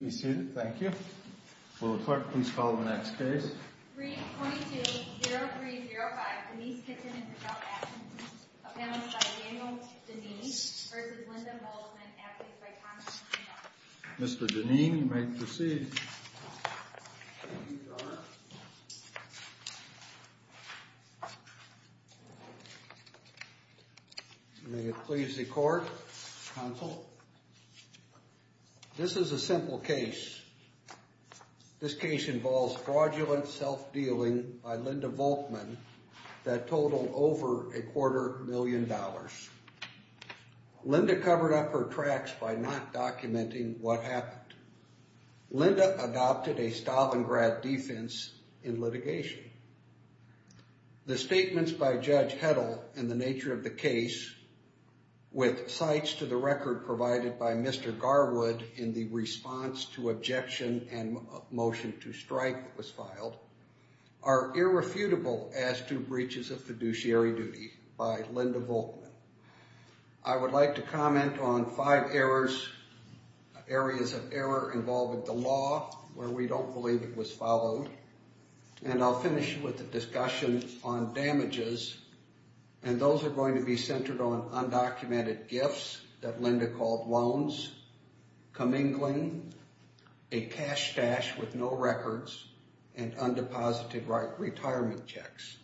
We see that. Thank you. Will the court please call the next case? 3.20305 Denise Kitton v. Michelle Atkinson Appellant by Daniel Deneen v. Linda Volkman Appellant by Thomas Hanna Mr. Deneen, you may proceed. May it please the court, counsel. This is a simple case. This case involves fraudulent self-dealing by Linda Volkman that totaled over a quarter million dollars. Linda covered up her tracks by not documenting what happened. Linda adopted a Stalingrad defense in litigation. The statements by Judge Hedl and the nature of the case with cites to the record provided by Mr. Garwood in the response to objection and motion to strike that was filed are irrefutable as to breaches of fiduciary duty by Linda Volkman. I would like to comment on five areas of error involving the law where we don't believe it was followed. And I'll finish with a discussion on damages. And those are going to be centered on undocumented gifts that Linda called loans, comingling, a cash stash with no records, and undeposited retirement checks.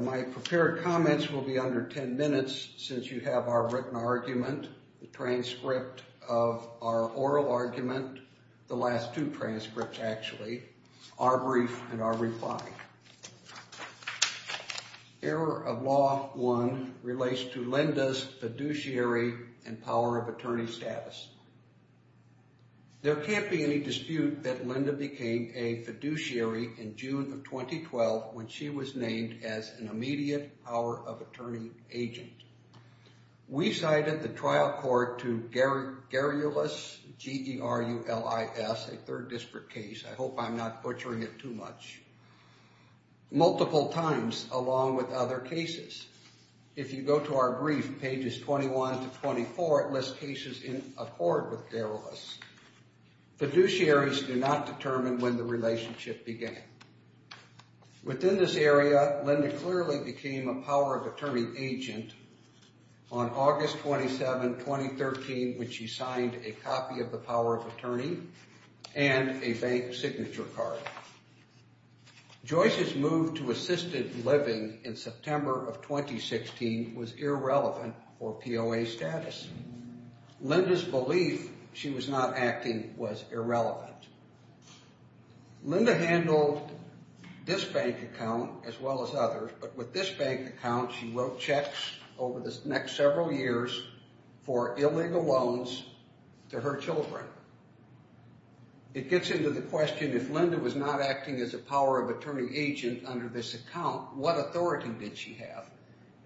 My prepared comments will be under 10 minutes since you have our written argument, the transcript of our oral argument, the last two transcripts, actually, our brief and our reply. Error of Law 1 relates to Linda's fiduciary and power of attorney status. There can't be any dispute that Linda became a fiduciary in June of 2012 when she was named as an immediate power of attorney agent. We cited the trial court to Garulis, G-E-R-U-L-I-S, a third district case, I hope I'm not butchering it too much, multiple times along with other cases. If you go to our brief, pages 21 to 24, it lists cases in accord with Garulis. Fiduciaries do not determine when the relationship began. Within this area, Linda clearly became a power of attorney agent on August 27, 2013, when she signed a copy of the power of attorney and a bank signature card. Joyce's move to assisted living in September of 2016 was irrelevant for POA status. Linda's belief she was not acting was irrelevant. Linda handled this bank account as well as others, but with this bank account, she wrote checks over the next several years for illegal loans to her children. It gets into the question, if Linda was not acting as a power of attorney agent under this account, what authority did she have?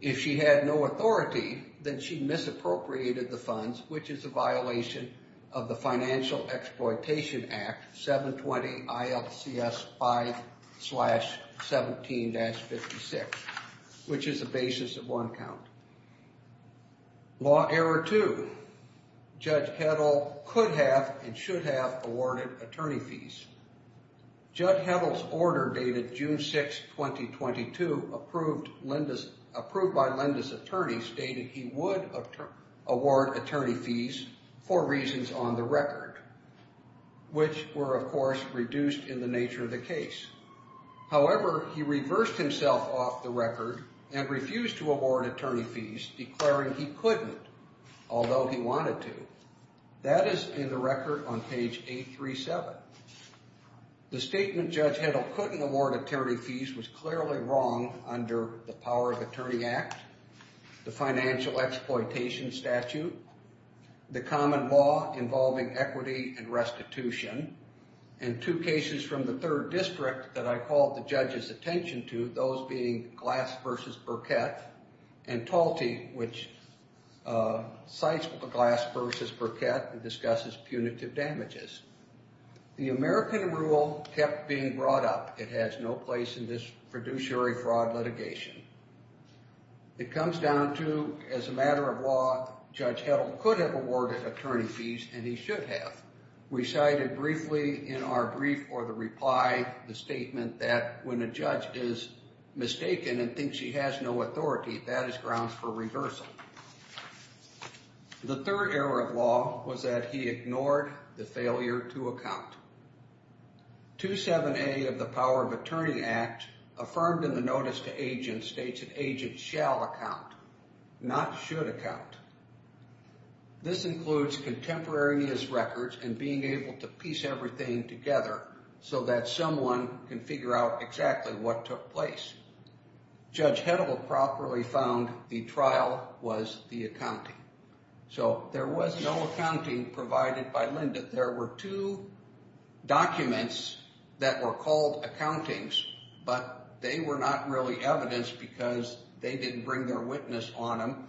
If she had no authority, then she misappropriated the funds, which is a violation of the Financial Exploitation Act, 720-ILCS-5-17-56, which is a basis of one count. Law error two. Judge Heddle could have and should have awarded attorney fees. Judge Heddle's order dated June 6, 2022, approved by Linda's attorneys, stated he would award attorney fees for reasons on the record, which were, of course, reduced in the nature of the case. However, he reversed himself off the record and refused to award attorney fees, declaring he couldn't, although he wanted to. That is in the record on page 837. The statement Judge Heddle couldn't award attorney fees was clearly wrong under the Power of Attorney Act, the Financial Exploitation Statute, the common law involving equity and restitution, and two cases from the Third District that I called the judge's attention to, those being Glass v. Burkett and Talty, which cites Glass v. Burkett and discusses punitive damages. The American rule kept being brought up. It has no place in this fiduciary fraud litigation. It comes down to, as a matter of law, Judge Heddle could have awarded attorney fees, and he should have. We cited briefly in our brief for the reply the statement that when a judge is mistaken and thinks he has no authority, that is grounds for reversal. The third error of law was that he ignored the failure to account. 27A of the Power of Attorney Act, affirmed in the Notice to Agents, states that agents shall account, not should account. This includes contemporary his records and being able to piece everything together so that someone can figure out exactly what took place. Judge Heddle properly found the trial was the accounting. So there was no accounting provided by Lynda. We found that there were two documents that were called accountings, but they were not really evidence because they didn't bring their witness on them,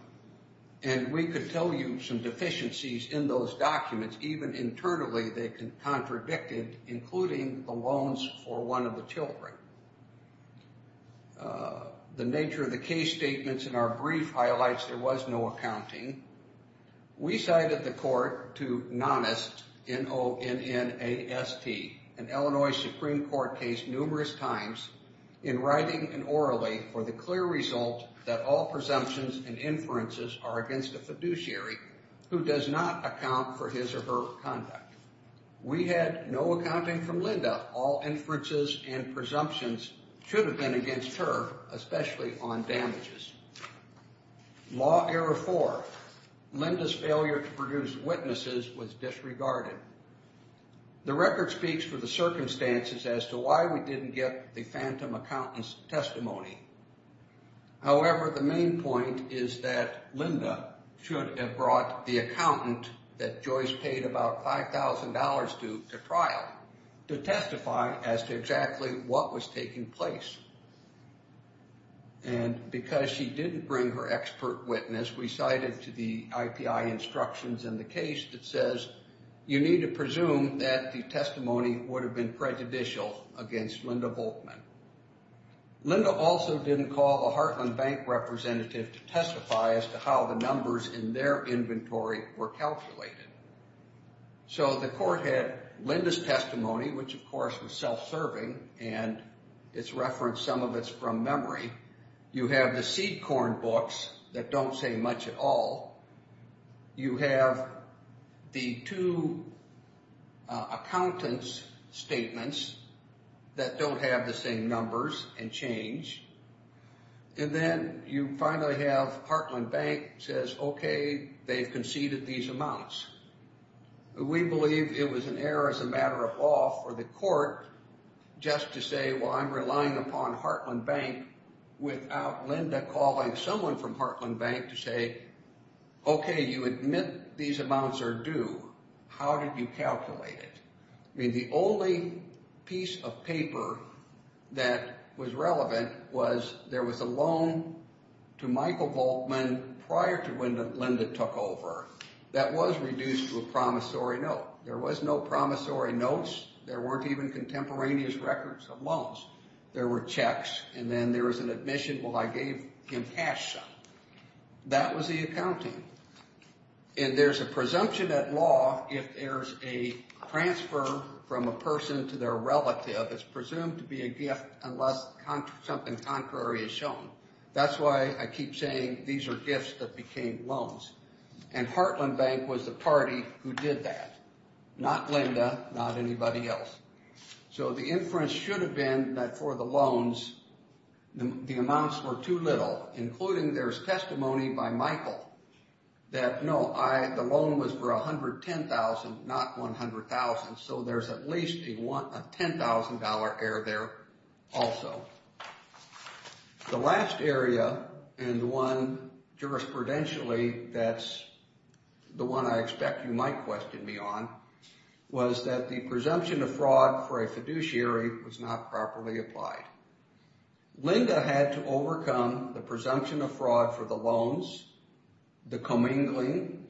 and we could tell you some deficiencies in those documents. Even internally, they contradicted, including the loans for one of the children. The nature of the case statements in our brief highlights there was no accounting. We cited the court to Nonnast, N-O-N-N-A-S-T, an Illinois Supreme Court case numerous times, in writing and orally for the clear result that all presumptions and inferences are against a fiduciary who does not account for his or her conduct. We had no accounting from Lynda. All inferences and presumptions should have been against her, especially on damages. Law error four. Lynda's failure to produce witnesses was disregarded. The record speaks for the circumstances as to why we didn't get the phantom accountant's testimony. However, the main point is that Lynda should have brought the accountant that Joyce paid about $5,000 to to trial to testify as to exactly what was taking place. And because she didn't bring her expert witness, we cited to the IPI instructions in the case that says, you need to presume that the testimony would have been prejudicial against Lynda Volkman. Lynda also didn't call a Heartland Bank representative to testify as to how the numbers in their inventory were calculated. So the court had Lynda's testimony, which of course was self-serving, and it's referenced some of it's from memory. You have the seed corn books that don't say much at all. You have the two accountants' statements that don't have the same numbers and change. And then you finally have Heartland Bank says, okay, they've conceded these amounts. We believe it was an error as a matter of law for the court just to say, well, I'm relying upon Heartland Bank without Lynda calling someone from Heartland Bank to say, okay, you admit these amounts are due. How did you calculate it? I mean, the only piece of paper that was relevant was there was a loan to Michael Volkman prior to when Lynda took over that was reduced to a promissory note. There was no promissory notes. There weren't even contemporaneous records of loans. There were checks, and then there was an admission, well, I gave him cash some. That was the accounting. And there's a presumption at law if there's a transfer from a person to their relative, it's presumed to be a gift unless something contrary is shown. That's why I keep saying these are gifts that became loans. And Heartland Bank was the party who did that. Not Lynda, not anybody else. So the inference should have been that for the loans, the amounts were too little, including there's testimony by Michael that, no, the loan was for $110,000, not $100,000, so there's at least a $10,000 error there also. The last area, and the one jurisprudentially that's the one I expect you might question me on, was that the presumption of fraud for a fiduciary was not properly applied. Lynda had to overcome the presumption of fraud for the loans, the commingling,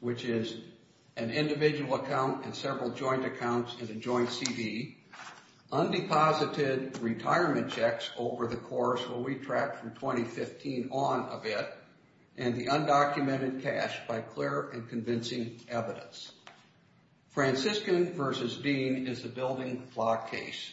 which is an individual account and several joint accounts and a joint CD, undeposited retirement checks over the course, where we tracked from 2015 on of it, and the undocumented cash by clear and convincing evidence. Franciscan versus Dean is the building block case.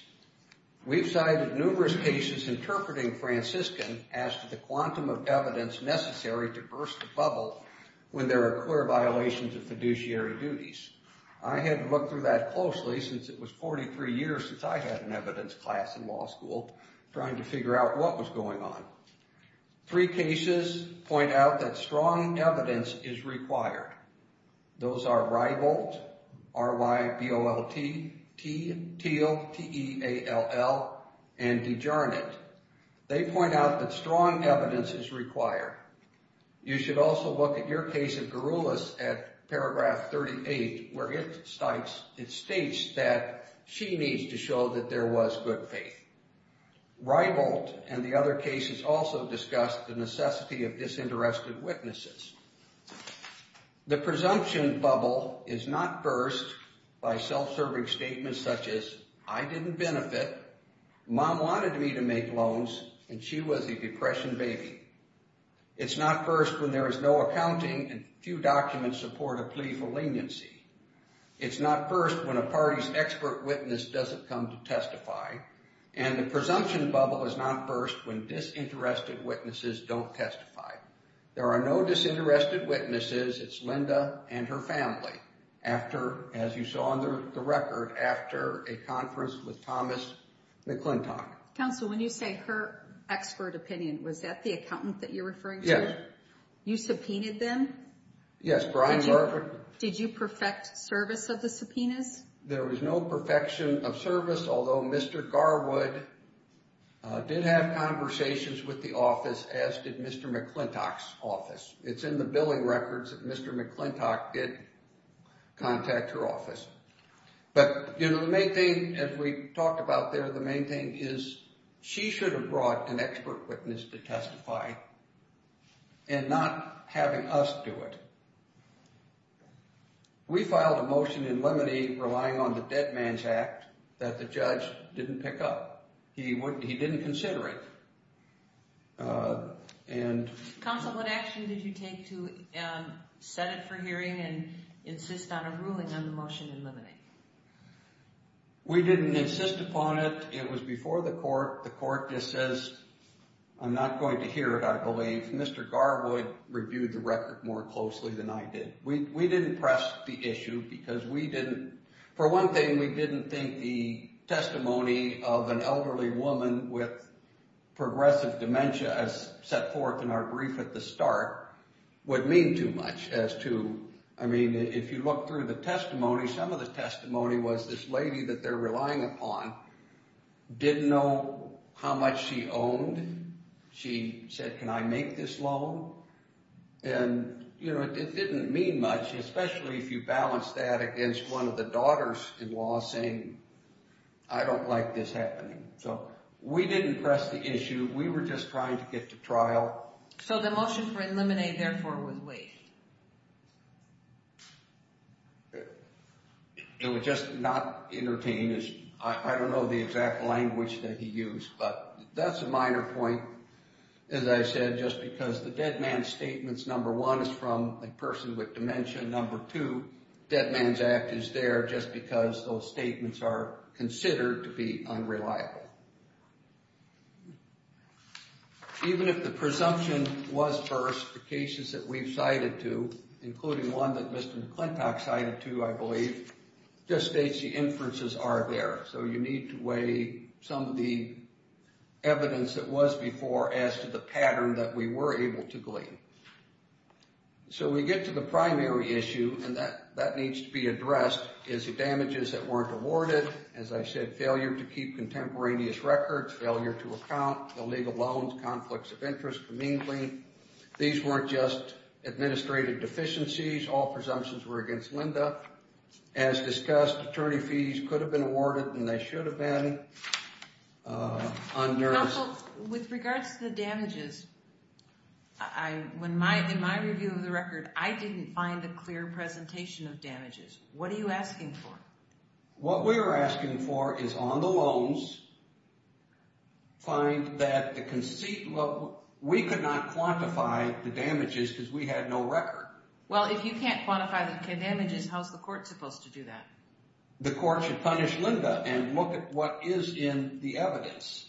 We've cited numerous cases interpreting Franciscan as to the quantum of evidence necessary to burst the bubble when there are clear violations of fiduciary duties. I had to look through that closely since it was 43 years since I had an evidence class in law school trying to figure out what was going on. Three cases point out that strong evidence is required. Those are Reibolt, R-Y-B-O-L-T, Teal, T-E-A-L-L, and DeJarnett. They point out that strong evidence is required. You should also look at your case of Garulas at paragraph 38 where it states that she needs to show that there was good faith. Reibolt and the other cases also discuss the necessity of disinterested witnesses. The presumption bubble is not burst by self-serving statements such as, I didn't benefit, mom wanted me to make loans, and she was a depression baby. It's not burst when there is no accounting and few documents support a plea for leniency. It's not burst when a party's expert witness doesn't come to testify. And the presumption bubble is not burst when disinterested witnesses don't testify. There are no disinterested witnesses. It's Linda and her family, as you saw on the record, after a conference with Thomas McClintock. Counsel, when you say her expert opinion, was that the accountant that you're referring to? Yes. You subpoenaed them? Yes, Brian Garwood. Did you perfect service of the subpoenas? There was no perfection of service, although Mr. Garwood did have conversations with the office, as did Mr. McClintock's office. It's in the billing records that Mr. McClintock did contact her office. But, you know, the main thing, as we talked about there, the main thing is she should have brought an expert witness to testify and not having us do it. We filed a motion in limine relying on the dead man's act that the judge didn't pick up. He didn't consider it. Counsel, what action did you take to set it for hearing and insist on a ruling on the motion in limine? We didn't insist upon it. It was before the court. The court just says, I'm not going to hear it, I believe. Mr. Garwood reviewed the record more closely than I did. We didn't press the issue because we didn't, for one thing, we didn't think the testimony of an elderly woman with progressive dementia, as set forth in our brief at the start, would mean too much as to, I mean, if you look through the testimony, some of the testimony was this lady that they're relying upon didn't know how much she owned. She said, can I make this loan? And, you know, it didn't mean much, especially if you balance that against one of the daughters-in-law saying, I don't like this happening. So we didn't press the issue. We were just trying to get to trial. So the motion for in limine, therefore, was waived. It was just not entertaining. I don't know the exact language that he used, but that's a minor point. As I said, just because the dead man's statements, number one, is from a person with dementia, number two, dead man's act is there just because those statements are considered to be unreliable. Even if the presumption was first, the cases that we've cited to, including one that Mr. McClintock cited to, I believe, just states the inferences are there. So you need to weigh some of the evidence that was before as to the pattern that we were able to glean. So we get to the primary issue, and that needs to be addressed, is the damages that weren't awarded, as I said, failure to keep contemporaneous records, failure to account, illegal loans, conflicts of interest, commingling. These weren't just administrative deficiencies. All presumptions were against Linda. As discussed, attorney fees could have been awarded, and they should have been. Counsel, with regards to the damages, in my review of the record, I didn't find a clear presentation of damages. What are you asking for? What we're asking for is, on the loans, find that the conceit level. We could not quantify the damages because we had no record. Well, if you can't quantify the damages, how's the court supposed to do that? The court should punish Linda and look at what is in the evidence.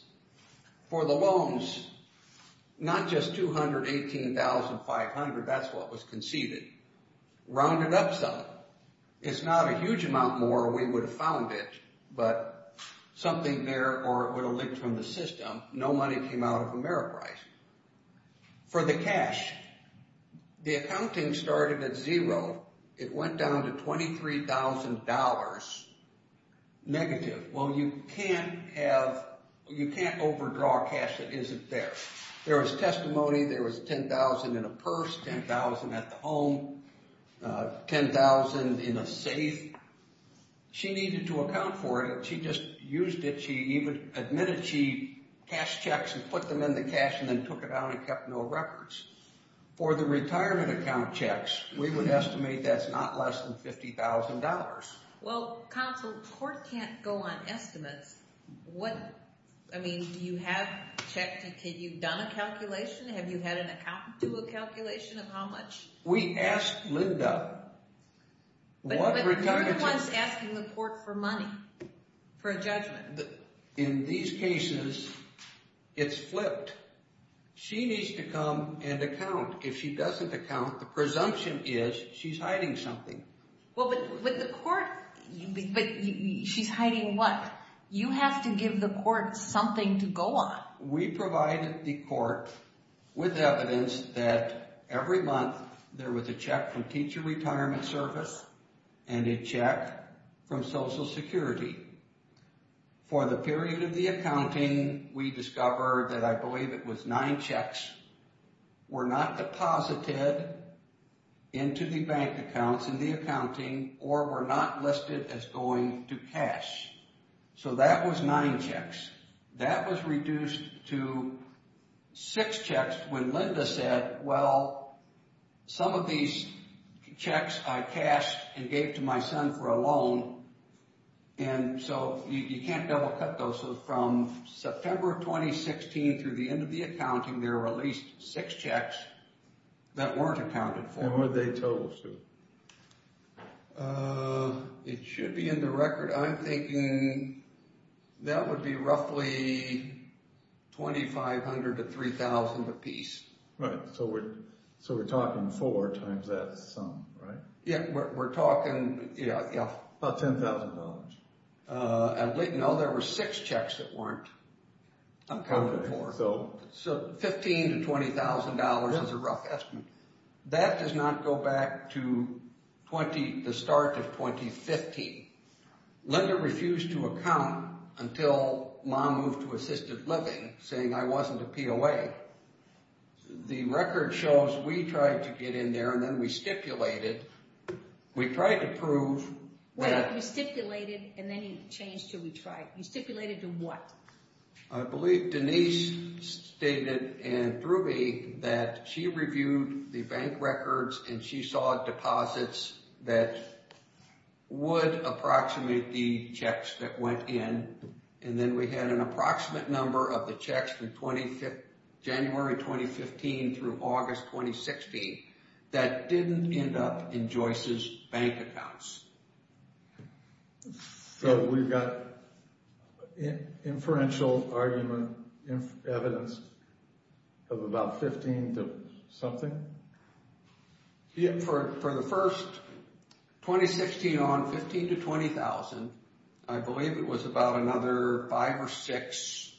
For the loans, not just $218,500, that's what was conceded. Round it up some. It's not a huge amount more or we would have found it, but something there or it would have leaked from the system. No money came out of Ameriprice. For the cash, the accounting started at zero. It went down to $23,000 negative. Well, you can't overdraw cash that isn't there. There was testimony. There was $10,000 in a purse, $10,000 at the home, $10,000 in a safe. She needed to account for it. She just used it. She even admitted she cashed checks and put them in the cash and then took it out and kept no records. For the retirement account checks, we would estimate that's not less than $50,000. Well, counsel, the court can't go on estimates. I mean, you have checked. Have you done a calculation? Have you had an accountant do a calculation of how much? We asked Linda. But who was asking the court for money for a judgment? In these cases, it's flipped. She needs to come and account. If she doesn't account, the presumption is she's hiding something. Well, but the court, she's hiding what? You have to give the court something to go on. We provided the court with evidence that every month there was a check from Teacher Retirement Service and a check from Social Security. For the period of the accounting, we discovered that I believe it was nine checks were not deposited into the bank accounts in the accounting or were not listed as going to cash. So that was nine checks. That was reduced to six checks when Linda said, well, some of these checks I cashed and gave to my son for a loan. And so you can't double-cut those. So from September of 2016 through the end of the accounting, there were at least six checks that weren't accounted for. And what are they totaled to? It should be in the record. I'm thinking that would be roughly $2,500 to $3,000 apiece. Right. So we're talking four times that sum, right? Yeah, we're talking, yeah. About $10,000. No, there were six checks that weren't accounted for. So $15,000 to $20,000 is a rough estimate. That does not go back to the start of 2015. Linda refused to account until Ma moved to assisted living, saying I wasn't a POA. The record shows we tried to get in there and then we stipulated. We tried to prove that. Wait, you stipulated and then you changed to we tried. You stipulated to what? Denise stated and threw me that she reviewed the bank records and she saw deposits that would approximate the checks that went in. And then we had an approximate number of the checks from January 2015 through August 2016 that didn't end up in Joyce's bank accounts. So we've got inferential argument evidence of about 15 to something? Yeah, for the first 2016 on, 15 to 20,000, I believe it was about another five or six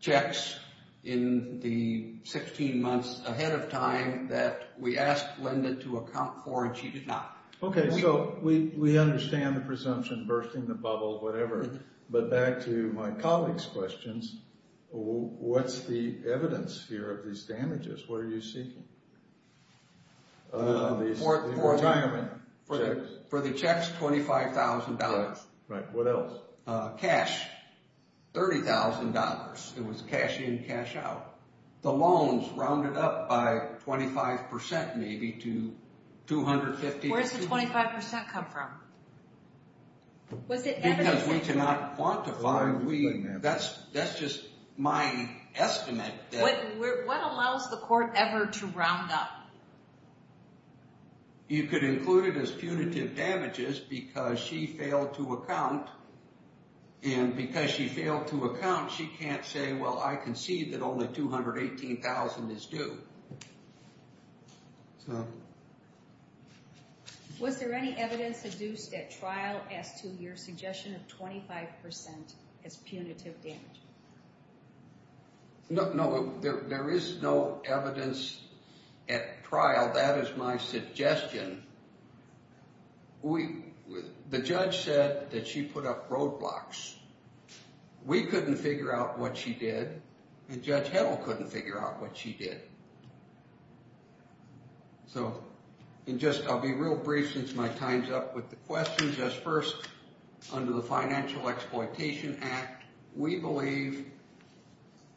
checks in the 16 months ahead of time that we asked Linda to account for and she did not. Okay, so we understand the presumption, bursting the bubble, whatever. But back to my colleague's questions, what's the evidence here of these damages? What are you seeking? The retirement checks? For the checks, $25,000. Right, what else? Cash, $30,000. It was cash in, cash out. The loans rounded up by 25% maybe to $250,000. Where does the 25% come from? Because we cannot quantify. That's just my estimate. What allows the court ever to round up? You could include it as punitive damages because she failed to account. And because she failed to account, she can't say, well, I concede that only $218,000 is due. Was there any evidence induced at trial as to your suggestion of 25% as punitive damage? No, there is no evidence at trial. That is my suggestion. The judge said that she put up roadblocks. We couldn't figure out what she did. And Judge Heddle couldn't figure out what she did. So I'll be real brief since my time's up with the questions. Just first, under the Financial Exploitation Act, we believe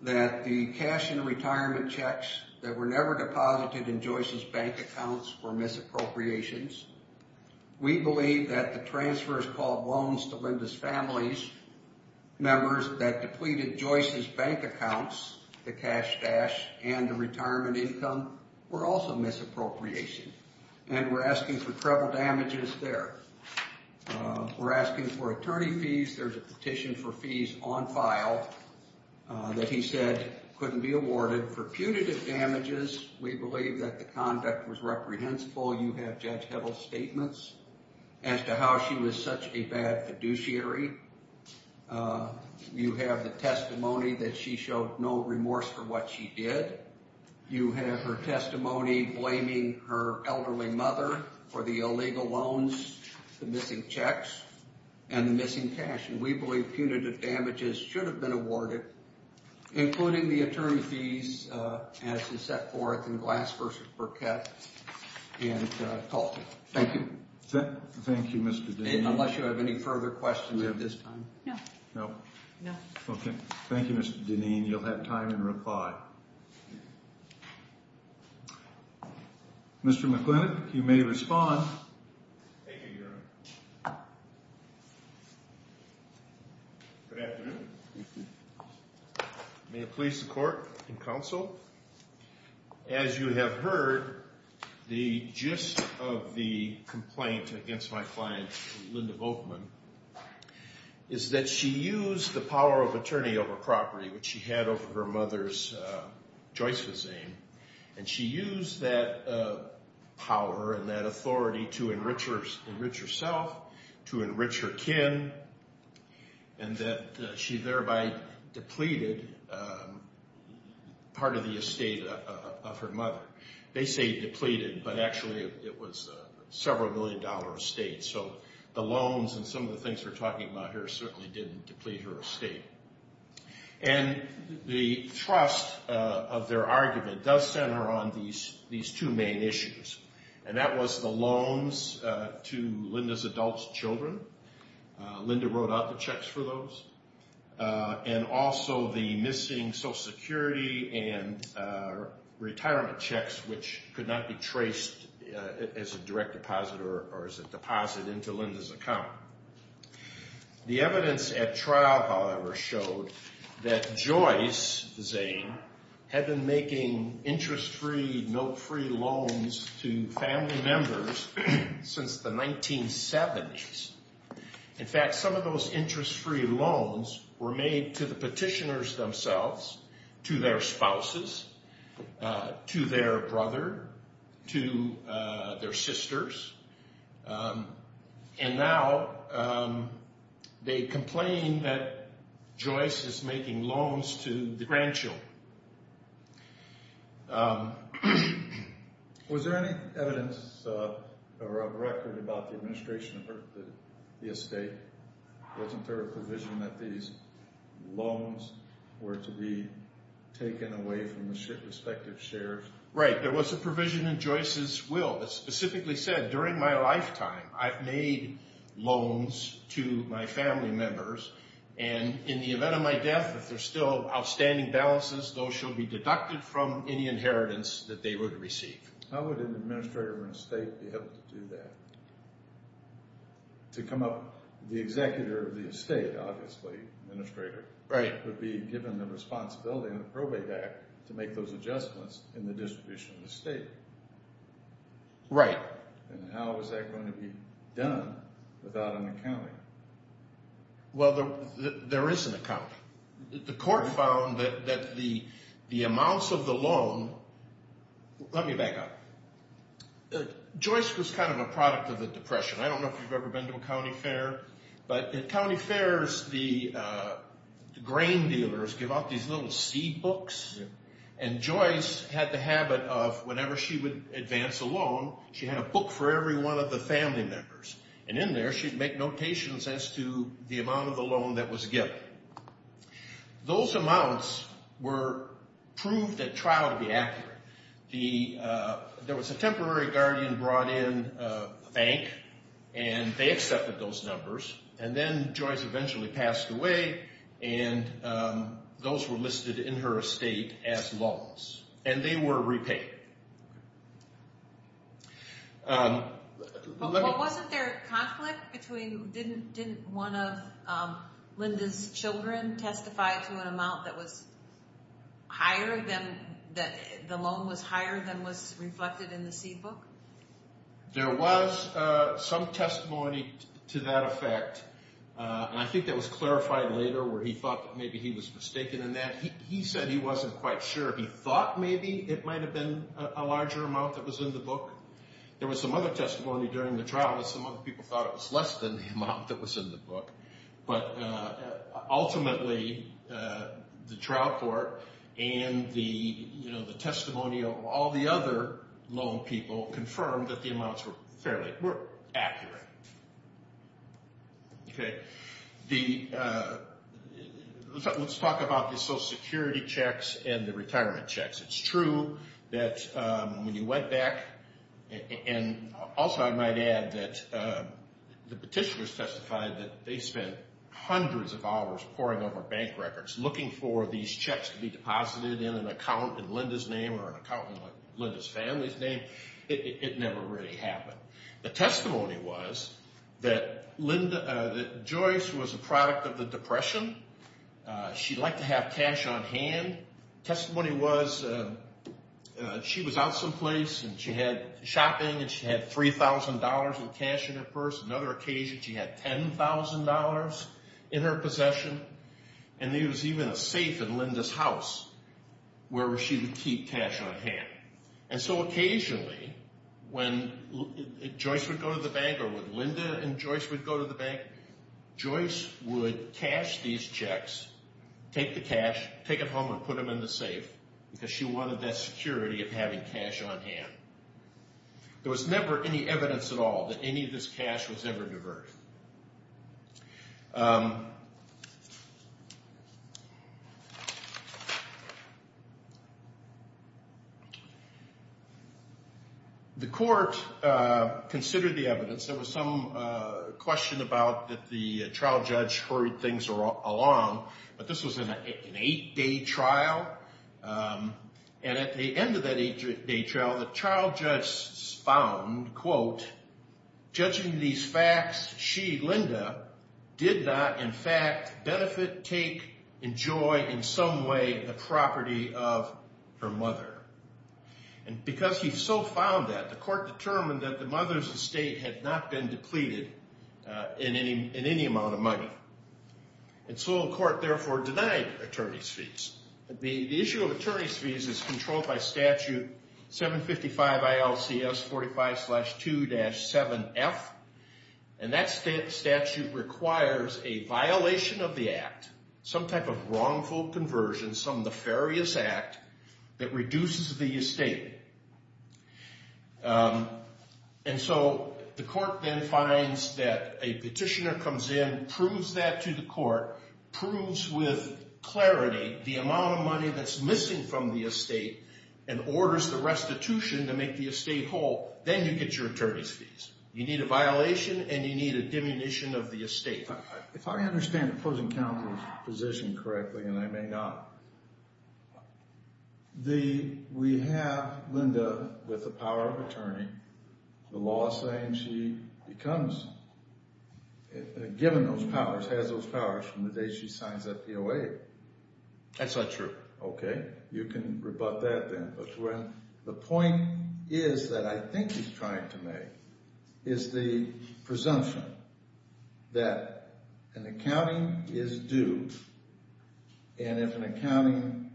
that the cash and retirement checks that were never deposited in Joyce's bank accounts were misappropriations. We believe that the transfers called loans to Linda's family members that depleted Joyce's bank accounts, the cash stash and the retirement income, were also misappropriation. And we're asking for treble damages there. We're asking for attorney fees. There's a petition for fees on file that he said couldn't be awarded. For punitive damages, we believe that the conduct was reprehensible. You have Judge Heddle's statements as to how she was such a bad fiduciary. You have the testimony that she showed no remorse for what she did. You have her testimony blaming her elderly mother for the illegal loans, the missing checks, and the missing cash. And we believe punitive damages should have been awarded, including the attorney fees as is set forth in Glass v. Burkett and Colton. Thank you. Thank you, Mr. Deneen. Unless you have any further questions at this time. Okay. Thank you, Mr. Deneen. You'll have time to reply. Mr. McLennan, you may respond. Thank you, Your Honor. Good afternoon. May it please the court and counsel. As you have heard, the gist of the complaint against my client, Linda Volkman, is that she used the power of attorney over property, which she had over her mother's Joyce v. Zane, and she used that power and that authority to enrich herself and to enrich her kin, and that she thereby depleted part of the estate of her mother. They say depleted, but actually it was a several-million-dollar estate. So the loans and some of the things we're talking about here certainly didn't deplete her estate. And the thrust of their argument does center on these two main issues, and that was the loans to Linda's adult children. Linda wrote out the checks for those. And also the missing Social Security and retirement checks, which could not be traced as a direct deposit or as a deposit into Linda's account. The evidence at trial, however, showed that Joyce, Zane, had been making interest-free, note-free loans to family members since the 1970s. In fact, some of those interest-free loans were made to the petitioners themselves, to their spouses, to their brother, to their sisters. And now they complain that Joyce is making loans to the grandchild. Was there any evidence or a record about the administration of the estate? Wasn't there a provision that these loans were to be taken away from the respective shares? Right, there was a provision in Joyce's will that specifically said during my lifetime I've made loans to my family members, and in the event of my death, if there's still outstanding balances, those shall be deducted from any inheritance that they would receive. How would an administrator of an estate be able to do that? To come up, the executor of the estate, obviously, administrator, would be given the responsibility in the Probate Act to make those adjustments in the distribution of the estate. Right. And how is that going to be done without an accountant? Well, there is an accountant. The court found that the amounts of the loan—let me back up. Joyce was kind of a product of the Depression. I don't know if you've ever been to a county fair, but at county fairs the grain dealers give out these little seed books, and Joyce had the habit of whenever she would advance a loan, she had a book for every one of the family members, and in there she'd make notations as to the amount of the loan that was given. Those amounts were proved at trial to be accurate. There was a temporary guardian brought in a bank, and they accepted those numbers, and then Joyce eventually passed away, and those were listed in her estate as loans, and they were repaid. Wasn't there conflict between— didn't one of Linda's children testify to an amount that was higher than— the loan was higher than was reflected in the seed book? There was some testimony to that effect, and I think that was clarified later where he thought that maybe he was mistaken in that. He said he wasn't quite sure. He thought maybe it might have been a larger amount that was in the book. There was some other testimony during the trial that some other people thought it was less than the amount that was in the book, but ultimately the trial court and the testimony of all the other loan people confirmed that the amounts were fairly—were accurate. Okay. Let's talk about the Social Security checks and the retirement checks. It's true that when you went back— hundreds of dollars pouring over bank records looking for these checks to be deposited in an account in Linda's name or an account in Linda's family's name, it never really happened. The testimony was that Joyce was a product of the Depression. She liked to have cash on hand. Testimony was she was out someplace, and she had shopping, and she had $3,000 in cash in her purse. Another occasion, she had $10,000 in her possession, and there was even a safe in Linda's house where she would keep cash on hand. And so occasionally when Joyce would go to the bank or when Linda and Joyce would go to the bank, Joyce would cash these checks, take the cash, take it home, and put them in the safe because she wanted that security of having cash on hand. There was never any evidence at all that any of this cash was ever diverted. The court considered the evidence. There was some question about that the trial judge hurried things along, but this was an eight-day trial, and at the end of that eight-day trial, the trial judge found, quote, judging these facts, she, Linda, did not in fact benefit, take, enjoy in some way the property of her mother. And because he so found that, the court determined that the mother's estate had not been depleted in any amount of money. And so the court therefore denied attorney's fees. The issue of attorney's fees is controlled by statute 755 ILCS 45-2-7F, and that statute requires a violation of the act, some type of wrongful conversion, some nefarious act that reduces the estate. And so the court then finds that a petitioner comes in, and proves that to the court, proves with clarity the amount of money that's missing from the estate, and orders the restitution to make the estate whole. Then you get your attorney's fees. You need a violation, and you need a diminution of the estate. If I understand the opposing counsel's position correctly, and I may not, we have Linda with the power of attorney. The law is saying she becomes, given those powers, has those powers from the day she signs that POA. That's not true. Okay. You can rebut that then. But the point is that I think he's trying to make is the presumption that an accounting is due, and if an accounting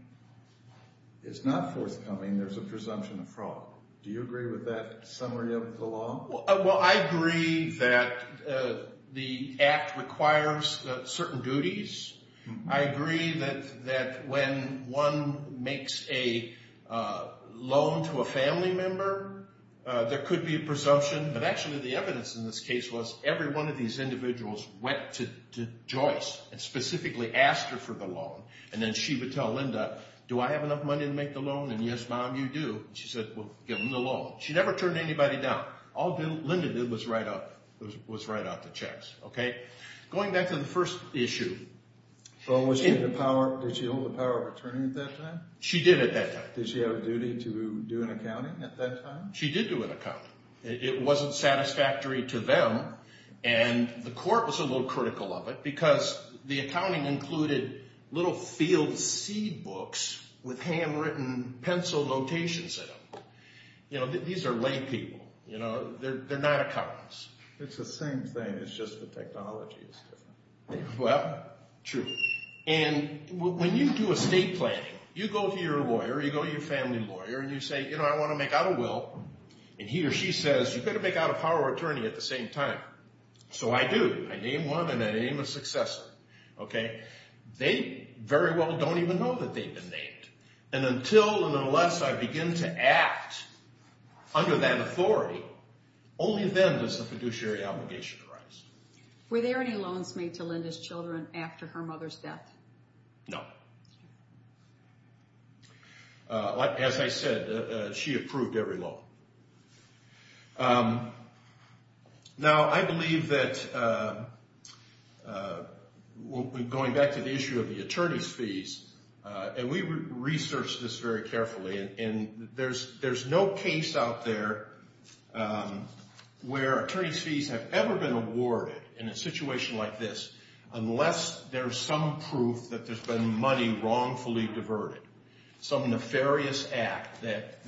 is not forthcoming, there's a presumption of fraud. Do you agree with that summary of the law? Well, I agree that the act requires certain duties. I agree that when one makes a loan to a family member, there could be a presumption. But actually, the evidence in this case was every one of these individuals went to Joyce, and specifically asked her for the loan. And then she would tell Linda, do I have enough money to make the loan? And yes, Mom, you do. She said, well, give me the loan. She never turned anybody down. All Linda did was write out the checks. Okay. Going back to the first issue. Did she hold the power of attorney at that time? She did at that time. Did she have a duty to do an accounting at that time? She did do an accounting. It wasn't satisfactory to them, and the court was a little critical of it because the accounting included little field seed books with handwritten pencil notations in them. These are lay people. They're not accountants. It's the same thing. It's just the technology is different. Well, true. And when you do estate planning, you go to your lawyer, you go to your family lawyer, and you say, you know, I want to make out a will. And he or she says, you better make out a power of attorney at the same time. So I do. I name one, and I name a successor. Okay. They very well don't even know that they've been named. And until and unless I begin to act under that authority, only then does the fiduciary obligation arise. Were there any loans made to Linda's children after her mother's death? No. As I said, she approved every loan. Now, I believe that, going back to the issue of the attorney's fees, and we researched this very carefully, and there's no case out there where attorney's fees have ever been awarded in a situation like this unless there's some proof that there's been money wrongfully diverted, some nefarious act that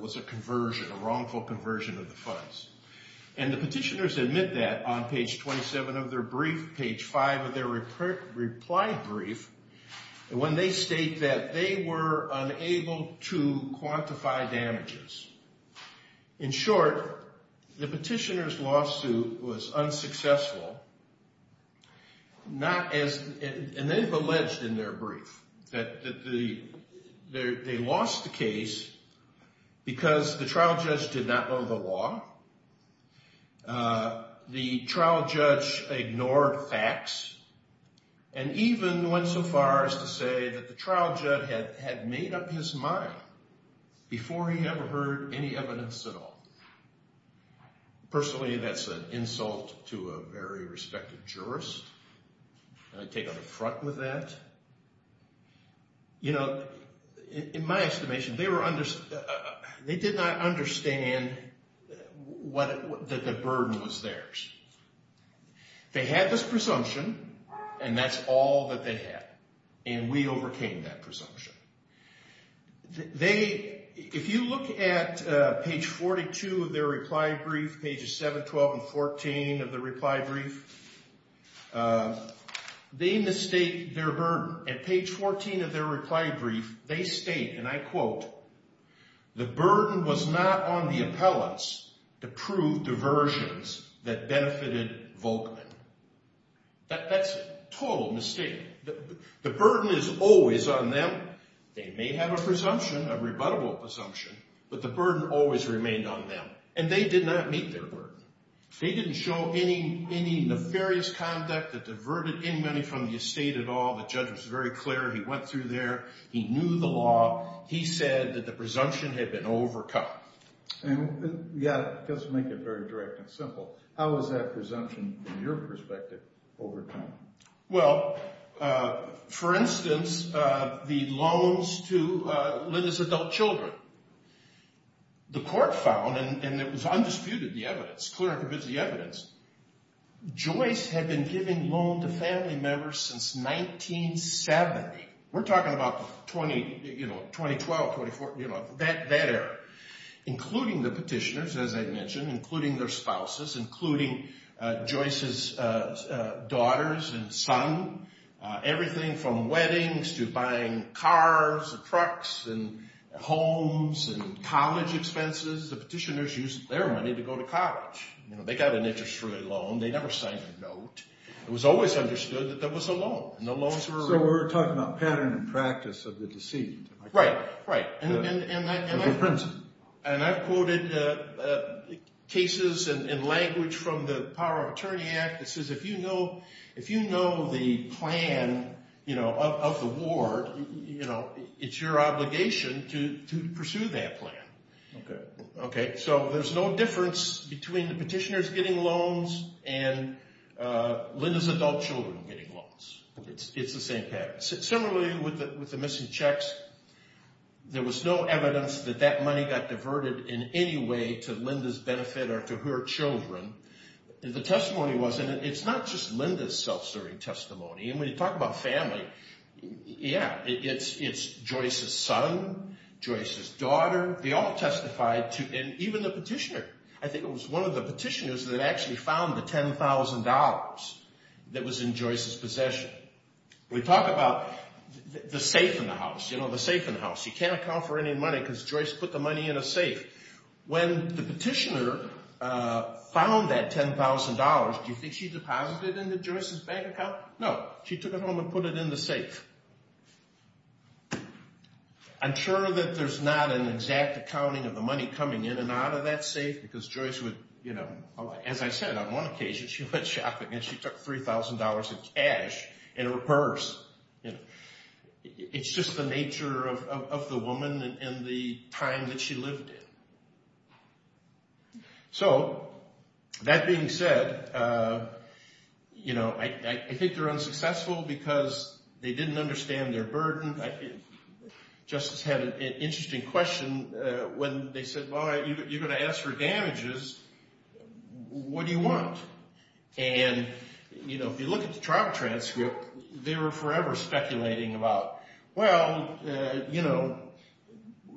was a conversion, a wrongful conversion of the funds. And the petitioners admit that on page 27 of their brief, page 5 of their reply brief, when they state that they were unable to quantify damages. In short, the petitioner's lawsuit was unsuccessful, and they've alleged in their brief that they lost the case because the trial judge did not know the law, the trial judge ignored facts, and even went so far as to say that the trial judge had made up his mind before he ever heard any evidence at all. Personally, that's an insult to a very respected jurist. Let me take on the front with that. You know, in my estimation, they did not understand that the burden was theirs. They had this presumption, and that's all that they had, and we overcame that presumption. If you look at page 42 of their reply brief, pages 7, 12, and 14 of their reply brief, they mistake their burden. At page 14 of their reply brief, they state, and I quote, the burden was not on the appellants to prove diversions that benefited Volkman. That's a total mistake. The burden is always on them. They may have a presumption, a rebuttable presumption, but the burden always remained on them, and they did not meet their burden. They didn't show any nefarious conduct that diverted any money from the estate at all. The judge was very clear. He went through there. He knew the law. He said that the presumption had been overcome. Yeah, just to make it very direct and simple, how was that presumption, from your perspective, overcome? Well, for instance, the loans to Linda's adult children. The court found, and it was undisputed, the evidence, clear and convincing evidence, Joyce had been giving loans to family members since 1970. We're talking about 2012, 2014, that era, including the petitioners, as I mentioned, including their spouses, including Joyce's daughters and son, everything from weddings to buying cars and trucks and homes and college expenses. The petitioners used their money to go to college. They got an interest-free loan. They never signed a note. It was always understood that there was a loan, and the loans were... So we're talking about pattern and practice of the deceit. Right, right, and I've quoted cases in language from the Power of Attorney Act that says if you know the plan of the ward, it's your obligation to pursue that plan. Okay. Okay, so there's no difference between the petitioners getting loans and Linda's adult children getting loans. It's the same pattern. Similarly, with the missing checks, there was no evidence that that money got diverted in any way to Linda's benefit or to her children. The testimony wasn't. It's not just Linda's self-serving testimony. And when you talk about family, yeah, it's Joyce's son, Joyce's daughter. They all testified, and even the petitioner. I think it was one of the petitioners that actually found the $10,000 that was in Joyce's possession. We talk about the safe in the house, you know, the safe in the house. You can't account for any money because Joyce put the money in a safe. When the petitioner found that $10,000, do you think she deposited it into Joyce's bank account? No, she took it home and put it in the safe. I'm sure that there's not an exact accounting of the money coming in and out of that safe because Joyce would, you know, as I said, on one occasion she went shopping and she took $3,000 in cash in her purse. It's just the nature of the woman and the time that she lived in. So, that being said, you know, I think they're unsuccessful because they didn't understand their burden. Justice had an interesting question when they said, well, you're going to ask for damages, what do you want? And, you know, if you look at the trial transcript, they were forever speculating about, well, you know,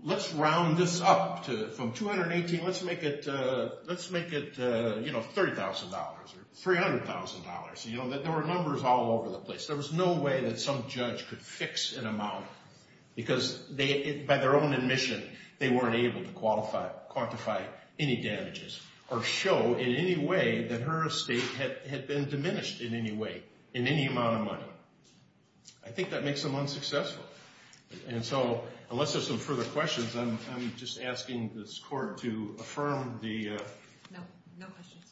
let's round this up from 218, let's make it, you know, $30,000 or $300,000. You know, there were numbers all over the place. There was no way that some judge could fix an amount because by their own admission they weren't able to quantify any damages or show in any way that her estate had been diminished in any way, in any amount of money. I think that makes them unsuccessful. And so, unless there's some further questions, I'm just asking this court to affirm the... No, no questions.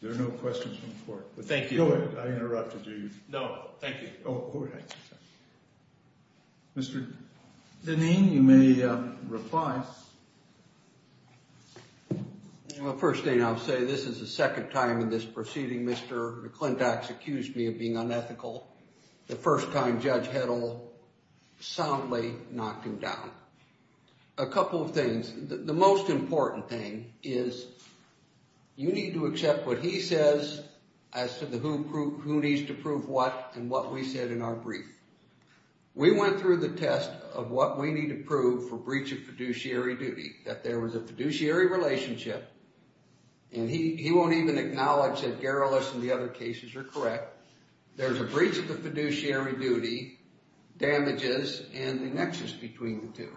There are no questions from the court. Thank you. I interrupted you. No, thank you. Oh, go ahead. Mr. Dineen, you may reply. Well, first thing I'll say, this is the second time in this proceeding Mr. McClintock's accused me of being unethical. The first time Judge Heddle soundly knocked him down. A couple of things. The most important thing is you need to accept what he says as to the who needs to prove what and what we said in our brief. We went through the test of what we need to prove for breach of fiduciary duty, that there was a fiduciary relationship, and he won't even acknowledge that Gerolus and the other cases are correct. There's a breach of the fiduciary duty, damages, and the nexus between the two.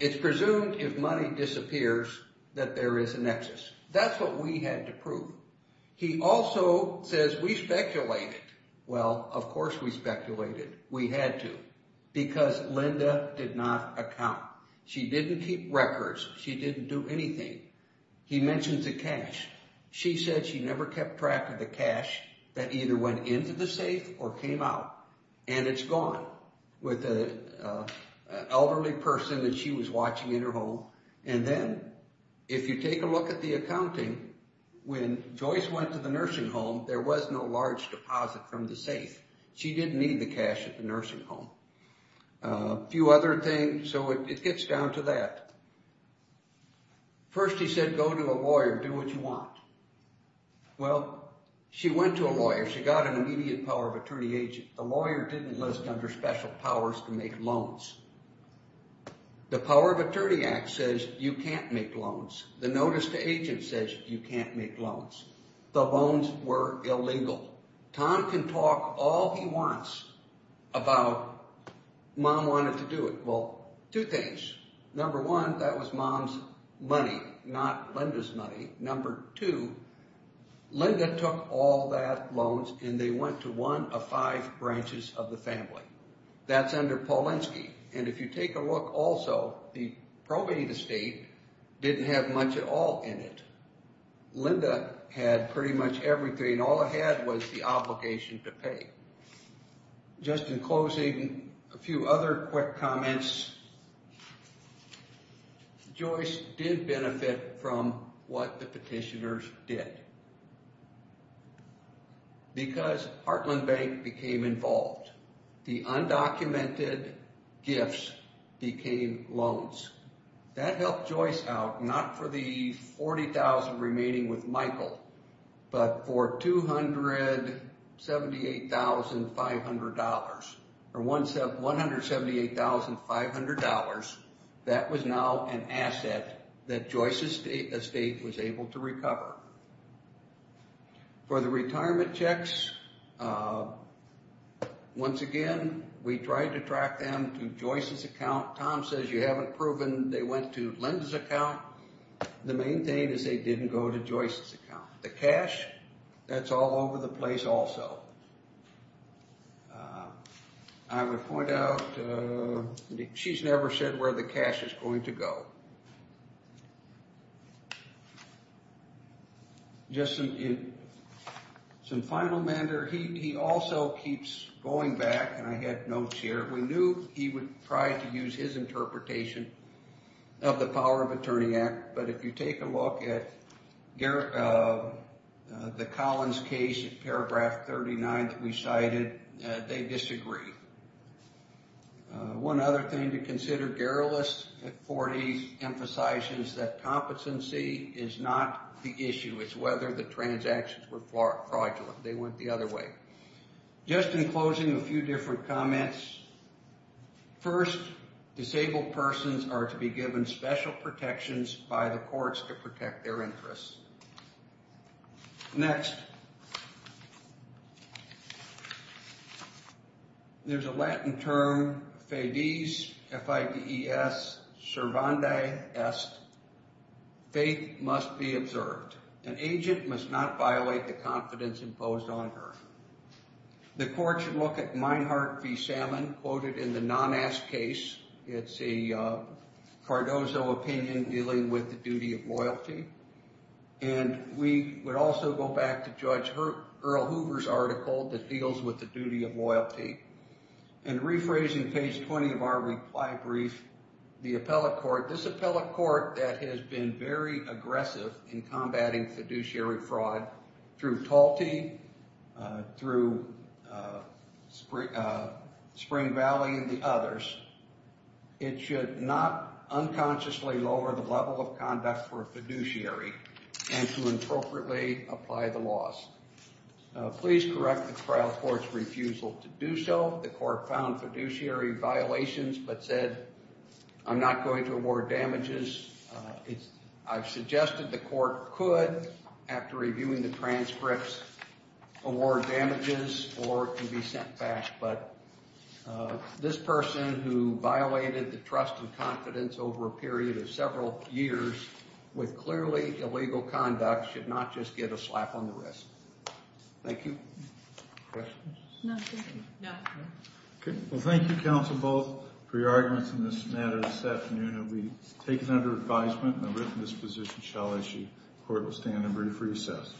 It's presumed if money disappears that there is a nexus. That's what we had to prove. He also says we speculated. Well, of course we speculated. We had to because Linda did not account. She didn't keep records. She didn't do anything. He mentions the cash. She said she never kept track of the cash that either went into the safe or came out, and it's gone with an elderly person that she was watching in her home. And then if you take a look at the accounting, when Joyce went to the nursing home, there was no large deposit from the safe. She didn't need the cash at the nursing home. A few other things, so it gets down to that. First he said go to a lawyer, do what you want. Well, she went to a lawyer. She got an immediate power of attorney agent. The lawyer didn't list under special powers to make loans. The Power of Attorney Act says you can't make loans. The notice to agents says you can't make loans. The loans were illegal. Tom can talk all he wants about mom wanted to do it. Well, two things. Number one, that was mom's money, not Linda's money. Number two, Linda took all that loans, and they went to one of five branches of the family. That's under Polinsky. And if you take a look also, the probate estate didn't have much at all in it. Linda had pretty much everything. All I had was the obligation to pay. Just in closing, a few other quick comments. Joyce did benefit from what the petitioners did. Because Heartland Bank became involved. The undocumented gifts became loans. That helped Joyce out, not for the 40,000 remaining with Michael, but for $178,500. That was now an asset that Joyce's estate was able to recover. For the retirement checks, once again, we tried to track them to Joyce's account. Tom says you haven't proven they went to Linda's account. The main thing is they didn't go to Joyce's account. The cash, that's all over the place also. I would point out she's never said where the cash is going to go. Just some final matter. He also keeps going back, and I had notes here. We knew he would try to use his interpretation of the Power of Attorney Act. But if you take a look at the Collins case, paragraph 39 that we cited, they disagree. One other thing to consider. Garrelis, at 40, emphasizes that competency is not the issue. It's whether the transactions were fraudulent. They went the other way. Just in closing, a few different comments. First, disabled persons are to be given special protections by the courts to protect their interests. Next, there's a Latin term, fedes, F-I-D-E-S, servanda est. Faith must be observed. An agent must not violate the confidence imposed on her. The court should look at Meinhart v. Salmon, quoted in the Nonass case. It's a Cardozo opinion dealing with the duty of loyalty. And we would also go back to Judge Earl Hoover's article that deals with the duty of loyalty. And rephrasing page 20 of our reply brief, the appellate court, this appellate court that has been very aggressive in combating fiduciary fraud through Talti, through Spring Valley, and the others, it should not unconsciously lower the level of conduct for a fiduciary and to appropriately apply the laws. Please correct the trial court's refusal to do so. The court found fiduciary violations but said, I'm not going to award damages. I've suggested the court could, after reviewing the transcripts, award damages or it can be sent back. But this person who violated the trust and confidence over a period of several years with clearly illegal conduct should not just get a slap on the wrist. Thank you. Questions? No. Okay. Well, thank you, Counsel Bolt, for your arguments in this matter this afternoon. And we take it under advisement and the written disposition shall issue. The court will stand in brief recess.